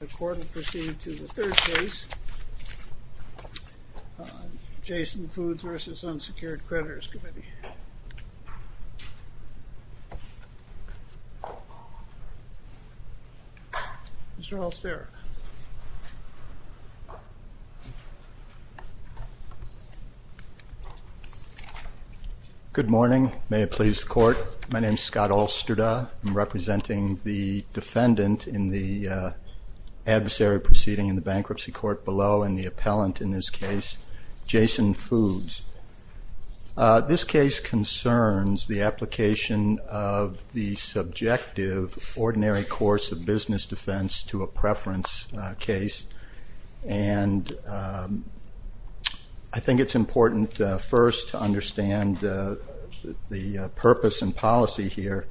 The court will proceed to the third case, Jason Foods v. Unsecured Creditors Committee. Mr. Halsterak. Good morning. May it please the court, my name is Scott Halsterak. I'm representing the defendant in the adversary proceeding in the bankruptcy court below and the appellant in this case, Jason Foods. This case concerns the application of the subjective ordinary course of business defense to a preference case, and I think it's important first to understand the purpose and policy here.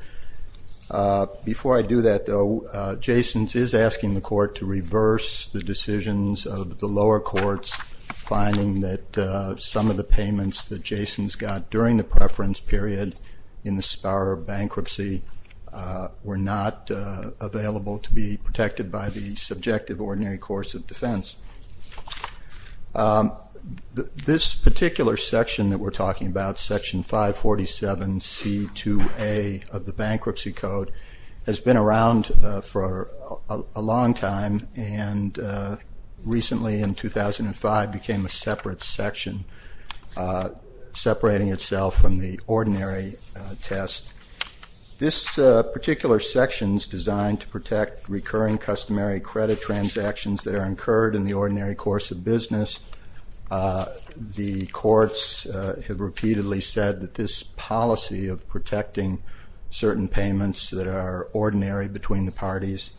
Before I do that, though, Jason's is asking the court to reverse the decisions of the lower courts, finding that some of the payments that Jason's got during the preference period in the Spar bankruptcy were not available to be protected by the subjective ordinary course of defense. This particular section that we're talking about, Section 547C2A of the Bankruptcy Code, has been around for a long time and recently in 2005 became a separate section, separating itself from the ordinary test. This particular section is designed to protect recurring customary credit transactions that are incurred in the ordinary course of business. The courts have repeatedly said that this policy of protecting certain payments that are ordinary between the parties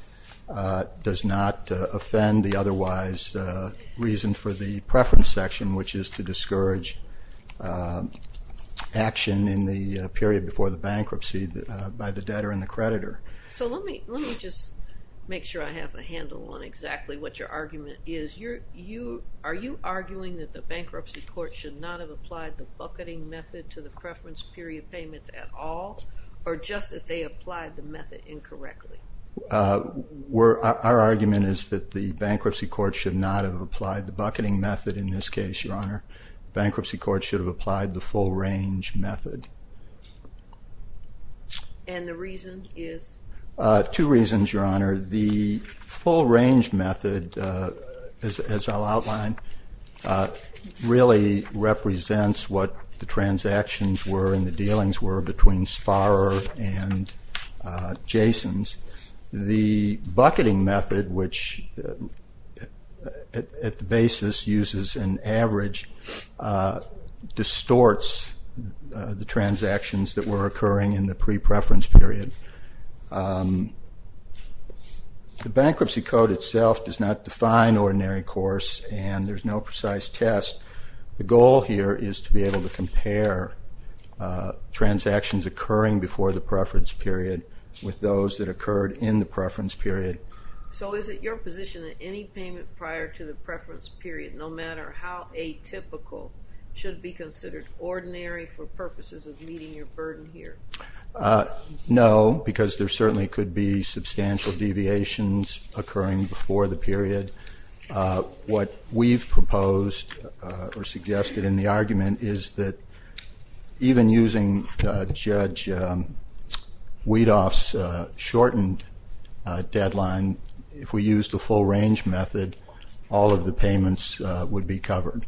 does not offend the otherwise reason for the preference section, which is to discourage action in the period before the bankruptcy by the debtor and the creditor. So let me just make sure I have a handle on exactly what your argument is. Are you arguing that the bankruptcy court should not have applied the bucketing method to the preference period payments at all, or just that they applied the method incorrectly? Our argument is that the bankruptcy court should not have applied the bucketing method in this case, Your Honor. Bankruptcy court should have applied the full-range method. And the reason is? Two reasons, Your Honor. The full-range method, as I'll outline, really represents what the transactions were and the dealings were between Sparrow and Jasons. The bucketing method, which at the basis uses an average, distorts the transactions that were occurring in the pre-preference period. The bankruptcy code itself does not define ordinary course, and there's no precise test. The goal here is to be able to compare transactions occurring before the preference period with those that occurred in the preference period. So is it your position that any payment prior to the preference period, no matter how atypical, should be considered ordinary for purposes of meeting your burden here? No, because there certainly could be substantial deviations occurring before the period. What we've proposed or suggested in the argument is that even using Judge Weedoff's shortened deadline, if we used the full-range method, all of the payments would be covered.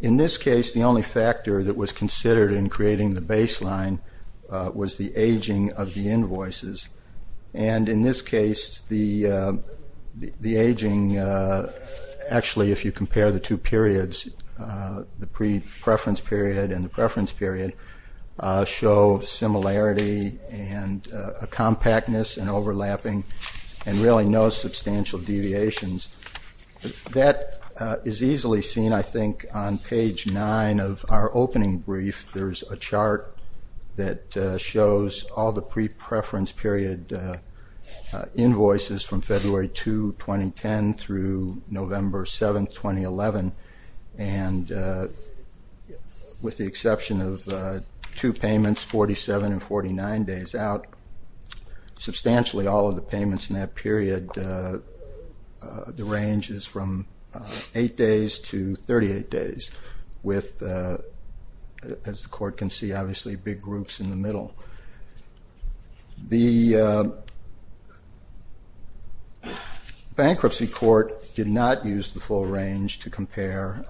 In this case, the only factor that was considered in creating the baseline was the aging of the invoices. And in this case, the aging, actually, if you compare the two periods, the pre-preference period and the preference period, show similarity and a compactness and overlapping and really no substantial deviations. That is easily seen, I think, on page 9 of our opening brief. There's a chart that shows all the pre-preference period invoices from February 2, 2010, through November 7, 2011. And with the exception of two payments, 47 and 49 days out, substantially all of the payments in that period, the range is from 8 days to 38 days, with, as the Court can see, obviously, big groups in the middle. The Bankruptcy Court did not use the full range to compare.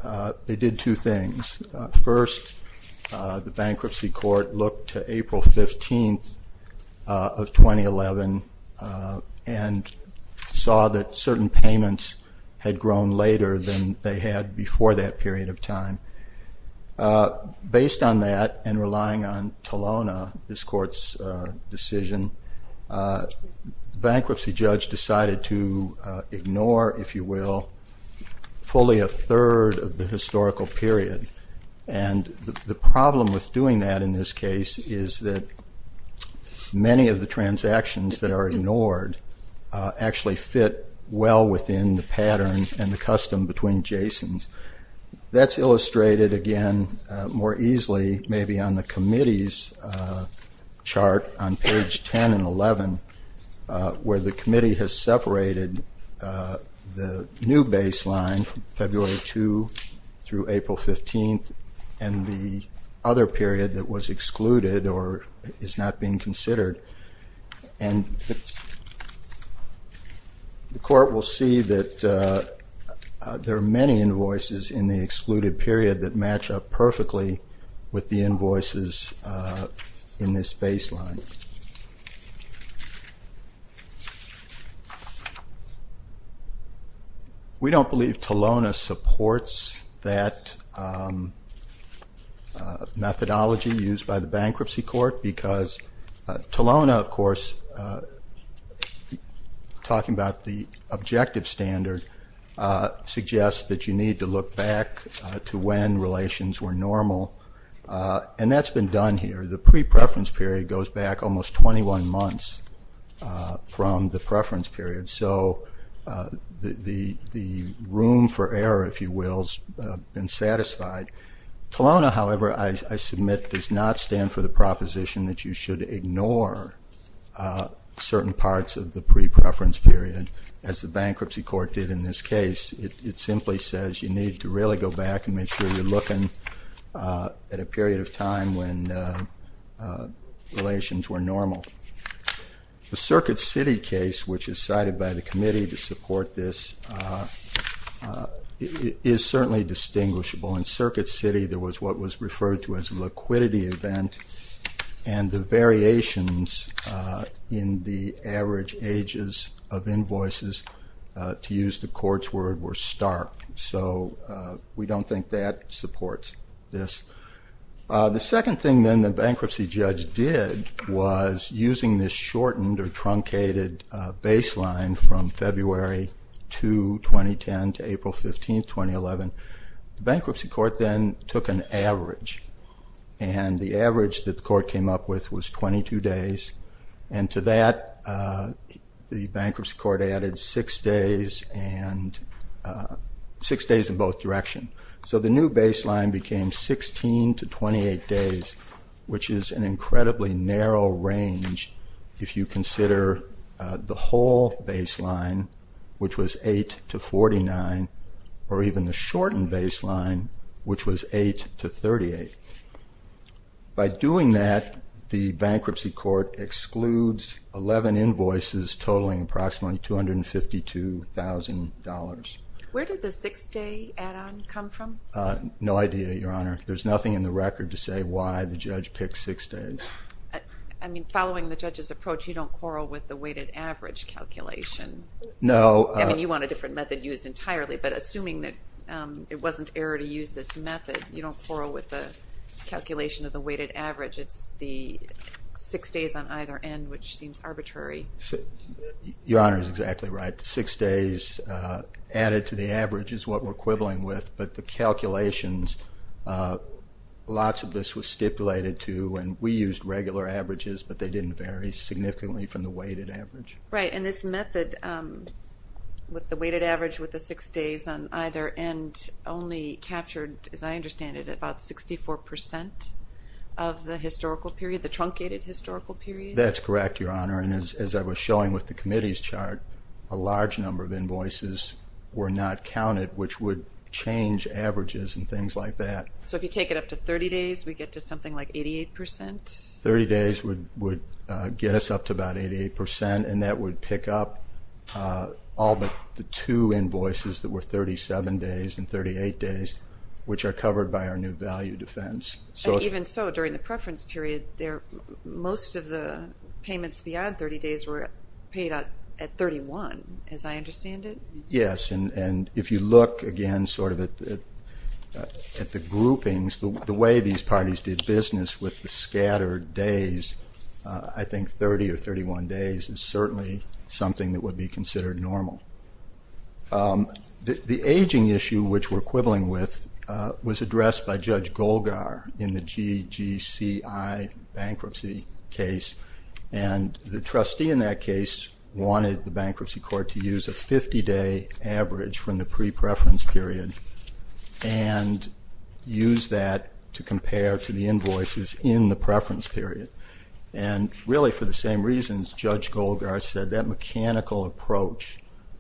They did two things. First, the Bankruptcy Court looked to April 15 of 2011 and saw that certain payments had grown later than they had before that period of time. Based on that and relying on Telona, this Court's decision, the bankruptcy judge decided to ignore, if you will, fully a third of the historical period. And the problem with doing that in this case is that many of the transactions that are ignored actually fit well within the pattern and the custom between Jasons. That's illustrated, again, more easily maybe on the committee's chart on page 10 and 11, where the committee has separated the new baseline, February 2 through April 15, and the other period that was excluded or is not being considered. And the Court will see that there are many invoices in the excluded period that match up perfectly with the invoices in this baseline. We don't believe Telona supports that methodology used by the Bankruptcy Court because Telona, of course, talking about the objective standard, suggests that you need to look back to when relations were normal, and that's been done here. The pre-preference period goes back almost 21 months from the preference period, so the room for error, if you will, has been satisfied. Telona, however, I submit does not stand for the proposition that you should ignore certain parts of the pre-preference period, as the Bankruptcy Court did in this case. It simply says you need to really go back and make sure you're looking at a period of time when relations were normal. The Circuit City case, which is cited by the committee to support this, is certainly distinguishable, in Circuit City there was what was referred to as a liquidity event, and the variations in the average ages of invoices, to use the Court's word, were stark. So we don't think that supports this. The second thing then the bankruptcy judge did was, using this shortened or truncated baseline from February 2, 2010 to April 15, 2011, the Bankruptcy Court then took an average, and the average that the Court came up with was 22 days, and to that the Bankruptcy Court added six days in both directions. So the new baseline became 16 to 28 days, which is an incredibly narrow range if you consider the whole baseline, which was 8 to 49, or even the shortened baseline, which was 8 to 38. By doing that, the Bankruptcy Court excludes 11 invoices totaling approximately $252,000. Where did the six-day add-on come from? No idea, Your Honor. There's nothing in the record to say why the judge picked six days. I mean, following the judge's approach, you don't quarrel with the weighted average calculation. No. I mean, you want a different method used entirely, but assuming that it wasn't error to use this method, you don't quarrel with the calculation of the weighted average. It's the six days on either end, which seems arbitrary. Your Honor is exactly right. The six days added to the average is what we're quibbling with, but the calculations, lots of this was stipulated to, and we used regular averages, but they didn't vary significantly from the weighted average. Right, and this method with the weighted average with the six days on either end only captured, as I understand it, about 64% of the historical period, the truncated historical period? That's correct, Your Honor, and as I was showing with the committee's chart, a large number of invoices were not counted, which would change averages and things like that. So if you take it up to 30 days, we get to something like 88%? Thirty days would get us up to about 88%, and that would pick up all but the two invoices that were 37 days and 38 days, which are covered by our new value defense. Even so, during the preference period, most of the payments beyond 30 days were paid at 31, as I understand it? Yes, and if you look again sort of at the groupings, the way these parties did business with the scattered days, I think 30 or 31 days is certainly something that would be considered normal. The aging issue, which we're quibbling with, was addressed by Judge Golgar in the GGCI bankruptcy case, and the trustee in that case wanted the bankruptcy court to use a 50-day average from the pre-preference period and use that to compare to the invoices in the preference period. Really, for the same reasons Judge Golgar said, that mechanical approach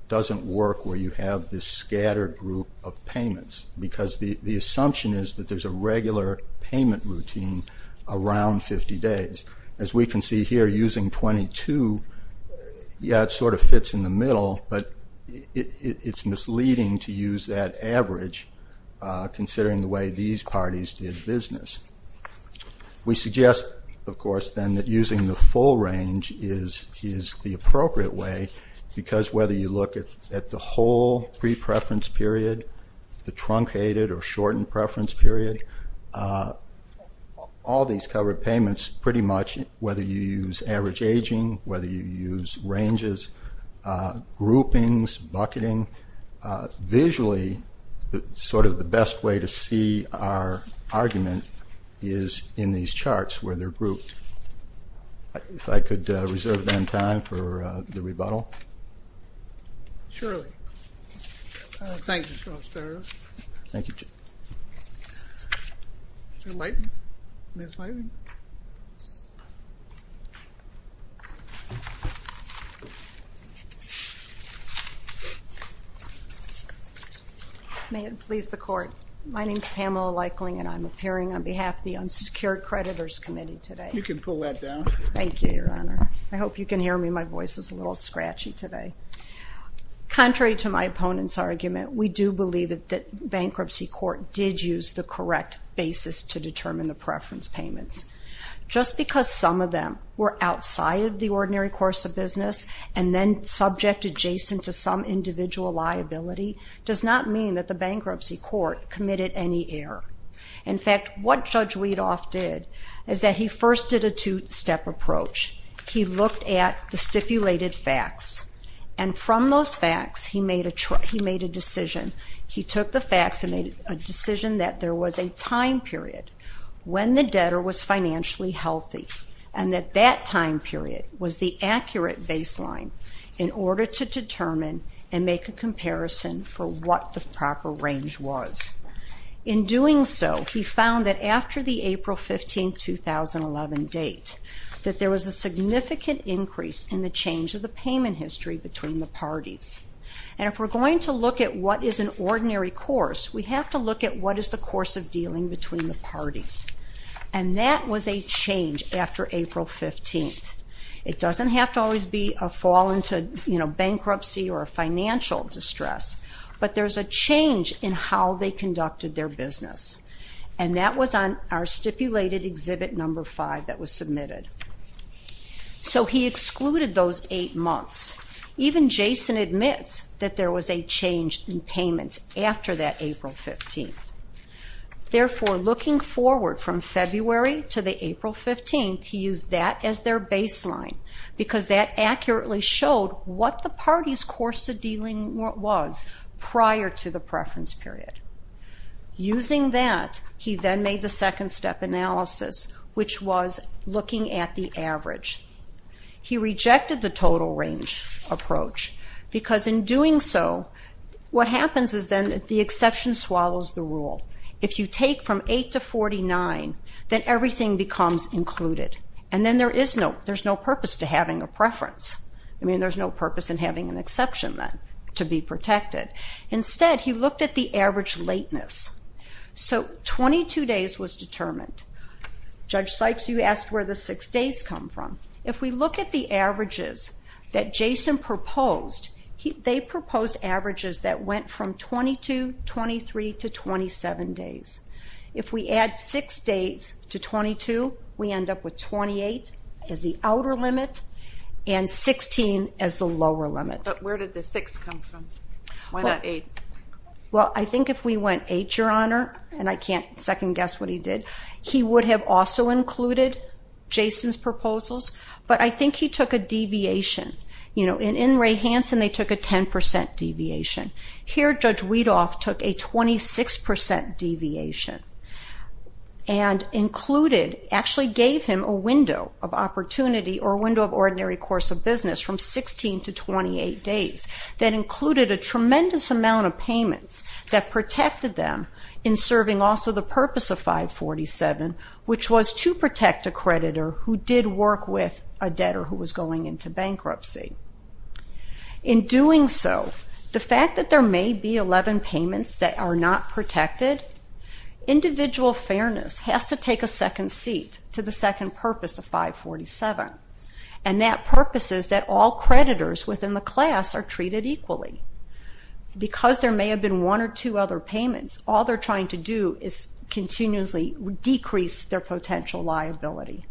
doesn't work where you have this scattered group of payments, because the assumption is that there's a regular payment routine around 50 days. As we can see here, using 22, yeah, it sort of fits in the middle, but it's misleading to use that average considering the way these parties did business. We suggest, of course, then, that using the full range is the appropriate way, because whether you look at the whole pre-preference period, the truncated or shortened preference period, all these covered payments pretty much, whether you use average aging, whether you use ranges, groupings, bucketing, visually, sort of the best way to see our argument is in these charts where they're grouped. If I could reserve then time for the rebuttal. Surely. Thank you, Justice Barrett. Thank you. Ms. Lightling. May it please the Court. My name is Pamela Lightling, and I'm appearing on behalf of the Unsecured Creditors Committee today. You can pull that down. Thank you, Your Honor. I hope you can hear me. My voice is a little scratchy today. Contrary to my opponent's argument, we do believe that the bankruptcy court did use the correct basis to determine the preference payments. Just because some of them were outside of the ordinary course of business and then subject adjacent to some individual liability, does not mean that the bankruptcy court committed any error. In fact, what Judge Weedoff did is that he first did a two-step approach. He looked at the stipulated facts. And from those facts, he made a decision. He took the facts and made a decision that there was a time period when the debtor was financially healthy and that that time period was the accurate baseline in order to determine and make a comparison for what the proper range was. In doing so, he found that after the April 15, 2011 date, that there was a significant increase in the change of the payment history between the parties. And if we're going to look at what is an ordinary course, we have to look at what is the course of dealing between the parties. And that was a change after April 15. It doesn't have to always be a fall into bankruptcy or a financial distress, but there's a change in how they conducted their business. And that was on our stipulated Exhibit No. 5 that was submitted. So he excluded those eight months. Even Jason admits that there was a change in payments after that April 15. Therefore, looking forward from February to the April 15, he used that as their baseline because that accurately showed what the parties' course of dealing was prior to the preference period. Using that, he then made the second-step analysis, which was looking at the average. He rejected the total range approach because in doing so, what happens is then the exception swallows the rule. If you take from 8 to 49, then everything becomes included. And then there's no purpose to having a preference. I mean, there's no purpose in having an exception then to be protected. Instead, he looked at the average lateness. So 22 days was determined. Judge Sykes, you asked where the six days come from. If we look at the averages that Jason proposed, they proposed averages that went from 22, 23, to 27 days. If we add six days to 22, we end up with 28 as the outer limit, and 16 as the lower limit. But where did the six come from? Why not eight? Well, I think if we went eight, Your Honor, and I can't second-guess what he did, he would have also included Jason's proposals. But I think he took a deviation. In Ray Hansen, they took a 10% deviation. Here, Judge Weedoff took a 26% deviation and actually gave him a window of opportunity or a window of ordinary course of business from 16 to 28 days that included a tremendous amount of payments that protected them in serving also the purpose of 547, which was to protect a creditor who did work with a debtor who was going into bankruptcy. In doing so, the fact that there may be 11 payments that are not protected individual fairness has to take a second seat to the second purpose of 547. And that purpose is that all creditors within the class are treated equally. Because there may have been one or two other payments, all they're trying to do is continuously decrease their potential liability.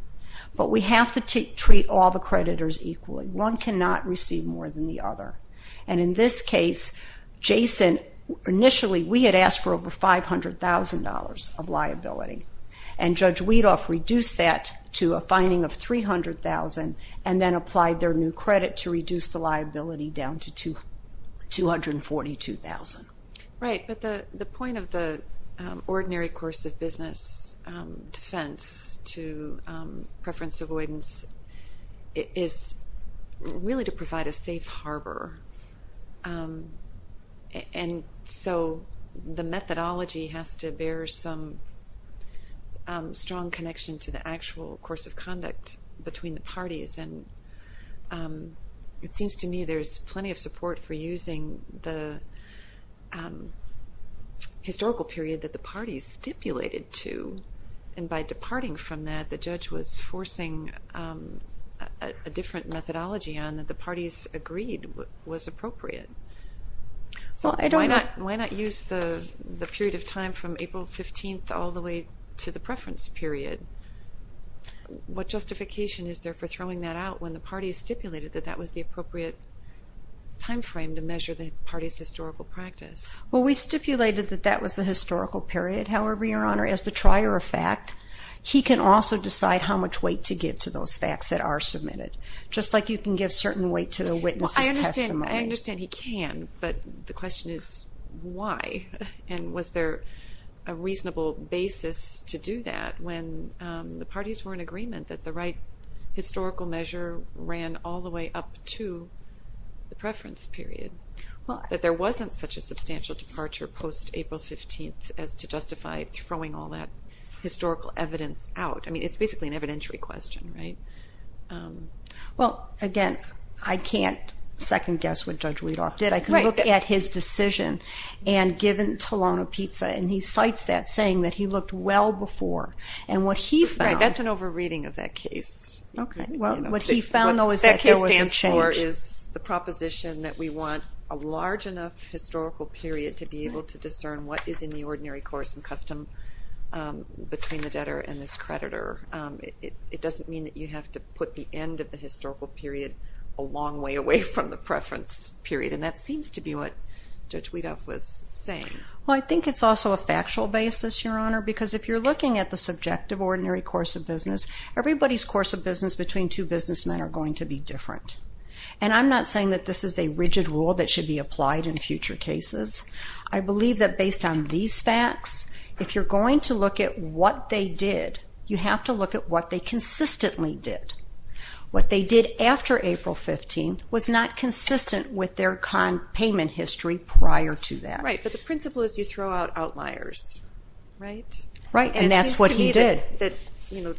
But we have to treat all the creditors equally. One cannot receive more than the other. And in this case, Jason, initially we had asked for over $500,000 of liability. And Judge Weedoff reduced that to a fining of $300,000 and then applied their new credit to reduce the liability down to $242,000. Right, but the point of the ordinary course of business defense to preference avoidance is really to provide a safe harbor. And so the methodology has to bear some strong connection to the actual course of conduct between the parties. And it seems to me there's plenty of support for using the historical period that the parties stipulated to. And by departing from that, the judge was forcing a different methodology on that the parties agreed was appropriate. Why not use the period of time from April 15th all the way to the preference period? What justification is there for throwing that out when the parties stipulated that that was the appropriate timeframe to measure the parties' historical practice? Well, we stipulated that that was the historical period. However, Your Honor, as the trier of fact, he can also decide how much weight to give to those facts that are submitted, just like you can give certain weight to the witness' testimony. I understand he can, but the question is why? And was there a reasonable basis to do that when the parties were in agreement that the right historical measure ran all the way up to the preference period, that there wasn't such a substantial departure post-April 15th as to justify throwing all that historical evidence out? I mean, it's basically an evidentiary question, right? Well, again, I can't second-guess what Judge Weadoff did. I can look at his decision, and given Tolano-Pizza, and he cites that, saying that he looked well before. Right, that's an over-reading of that case. What he found, though, is that there was some change. There is the proposition that we want a large enough historical period to be able to discern what is in the ordinary course and custom between the debtor and this creditor. It doesn't mean that you have to put the end of the historical period a long way away from the preference period, and that seems to be what Judge Weadoff was saying. Well, I think it's also a factual basis, Your Honor, because if you're looking at the subjective ordinary course of business, everybody's course of business between two businessmen are going to be different. And I'm not saying that this is a rigid rule that should be applied in future cases. I believe that based on these facts, if you're going to look at what they did, you have to look at what they consistently did. What they did after April 15th was not consistent with their payment history prior to that. Right, but the principle is you throw out outliers, right? Right, and that's what he did.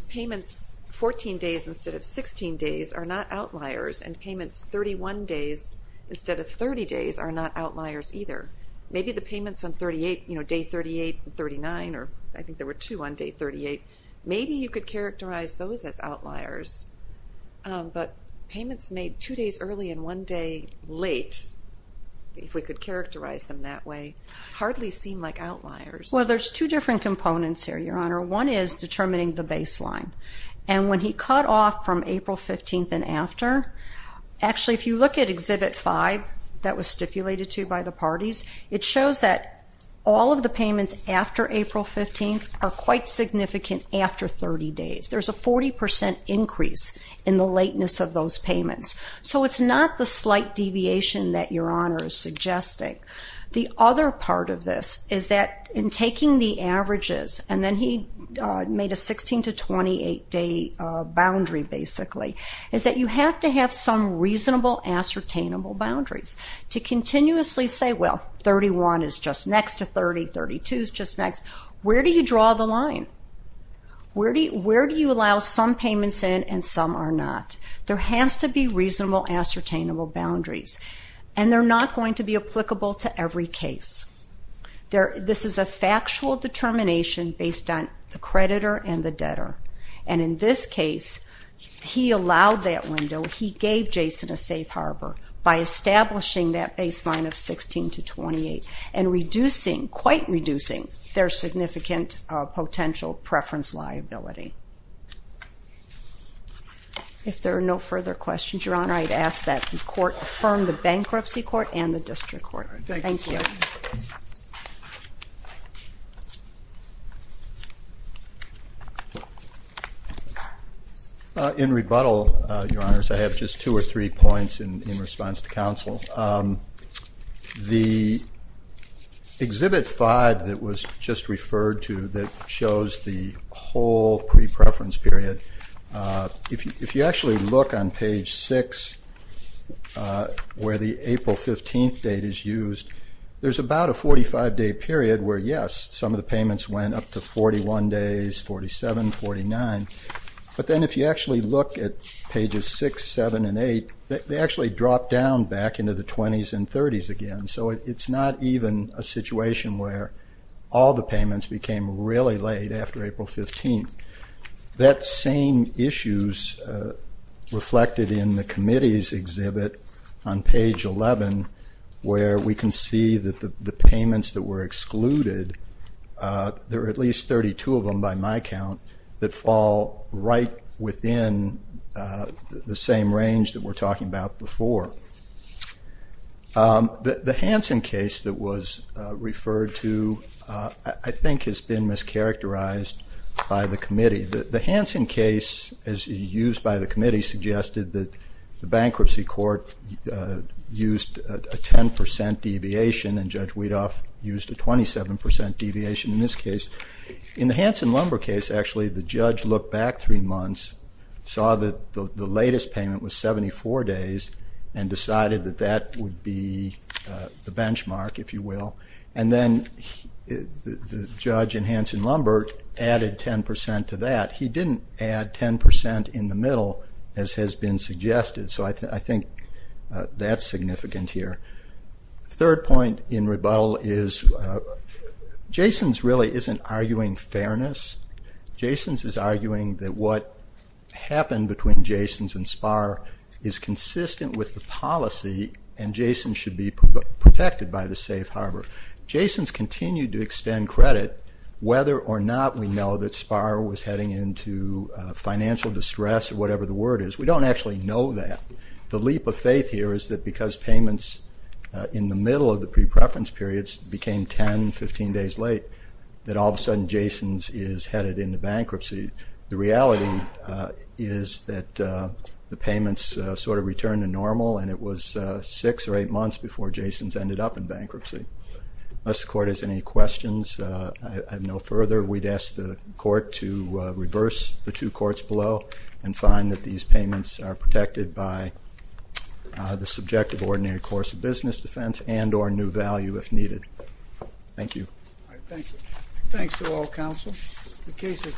Payments 14 days instead of 16 days are not outliers, and payments 31 days instead of 30 days are not outliers either. Maybe the payments on day 38 and 39, or I think there were two on day 38, maybe you could characterize those as outliers, but payments made two days early and one day late, if we could characterize them that way, hardly seem like outliers. Well, there's two different components here, Your Honor. One is determining the baseline. And when he cut off from April 15th and after, actually if you look at Exhibit 5 that was stipulated to by the parties, it shows that all of the payments after April 15th are quite significant after 30 days. There's a 40% increase in the lateness of those payments. So it's not the slight deviation that Your Honor is suggesting. The other part of this is that in taking the averages and then he made a 16 to 28-day boundary basically, is that you have to have some reasonable, ascertainable boundaries to continuously say, well, 31 is just next to 30, 32 is just next. Where do you draw the line? Where do you allow some payments in and some are not? There has to be reasonable, ascertainable boundaries, and they're not going to be applicable to every case. This is a factual determination based on the creditor and the debtor. And in this case, he allowed that window. He gave Jason a safe harbor by establishing that baseline of 16 to 28 and reducing, quite reducing, their significant potential preference liability. If there are no further questions, Your Honor, I'd ask that the Court affirm the Bankruptcy Court and the District Court. Thank you. In rebuttal, Your Honors, I have just two or three points in response to counsel. The Exhibit 5 that was just referred to that shows the whole pre-preference period, if you actually look on page 6 where the April 15th date is used, there's about a 45-day period where, yes, some of the payments went up to 41 days, 47, 49, but then if you actually look at pages 6, 7, and 8, they actually drop down back into the 20s and 30s again. So it's not even a situation where all the payments became really late after April 15th. That same issue is reflected in the committee's exhibit on page 11 where we can see that the payments that were excluded, there are at least 32 of them by my count, that fall right within the same range that we're talking about before. The Hanson case that was referred to, I think, has been mischaracterized by the committee. The Hanson case, as used by the committee, suggested that the bankruptcy court used a 10 percent deviation and Judge Weedoff used a 27 percent deviation in this case. In the Hanson lumber case, actually, the judge looked back three months, saw that the latest payment was 74 days, and decided that that would be the benchmark, if you will, and then the judge in Hanson lumber added 10 percent to that. He didn't add 10 percent in the middle, as has been suggested, so I think that's significant here. The third point in rebuttal is, Jason's really isn't arguing fairness. Jason's is arguing that what happened between Jason's and Spahr is consistent with the policy, and Jason's should be protected by the safe harbor. Jason's continued to extend credit, whether or not we know that Spahr was heading into financial distress or whatever the word is. We don't actually know that. The leap of faith here is that because payments in the middle of the pre-preference periods became 10, 15 days late, that all of a sudden Jason's is headed into bankruptcy. The reality is that the payments sort of returned to normal and it was six or eight months before Jason's ended up in bankruptcy. Unless the court has any questions, I have no further. We'd ask the court to reverse the two courts below and find that these payments are protected by the subjective ordinary course of business defense and or new value if needed. Thank you. All right, thank you. Thanks to all counsel. Thank you.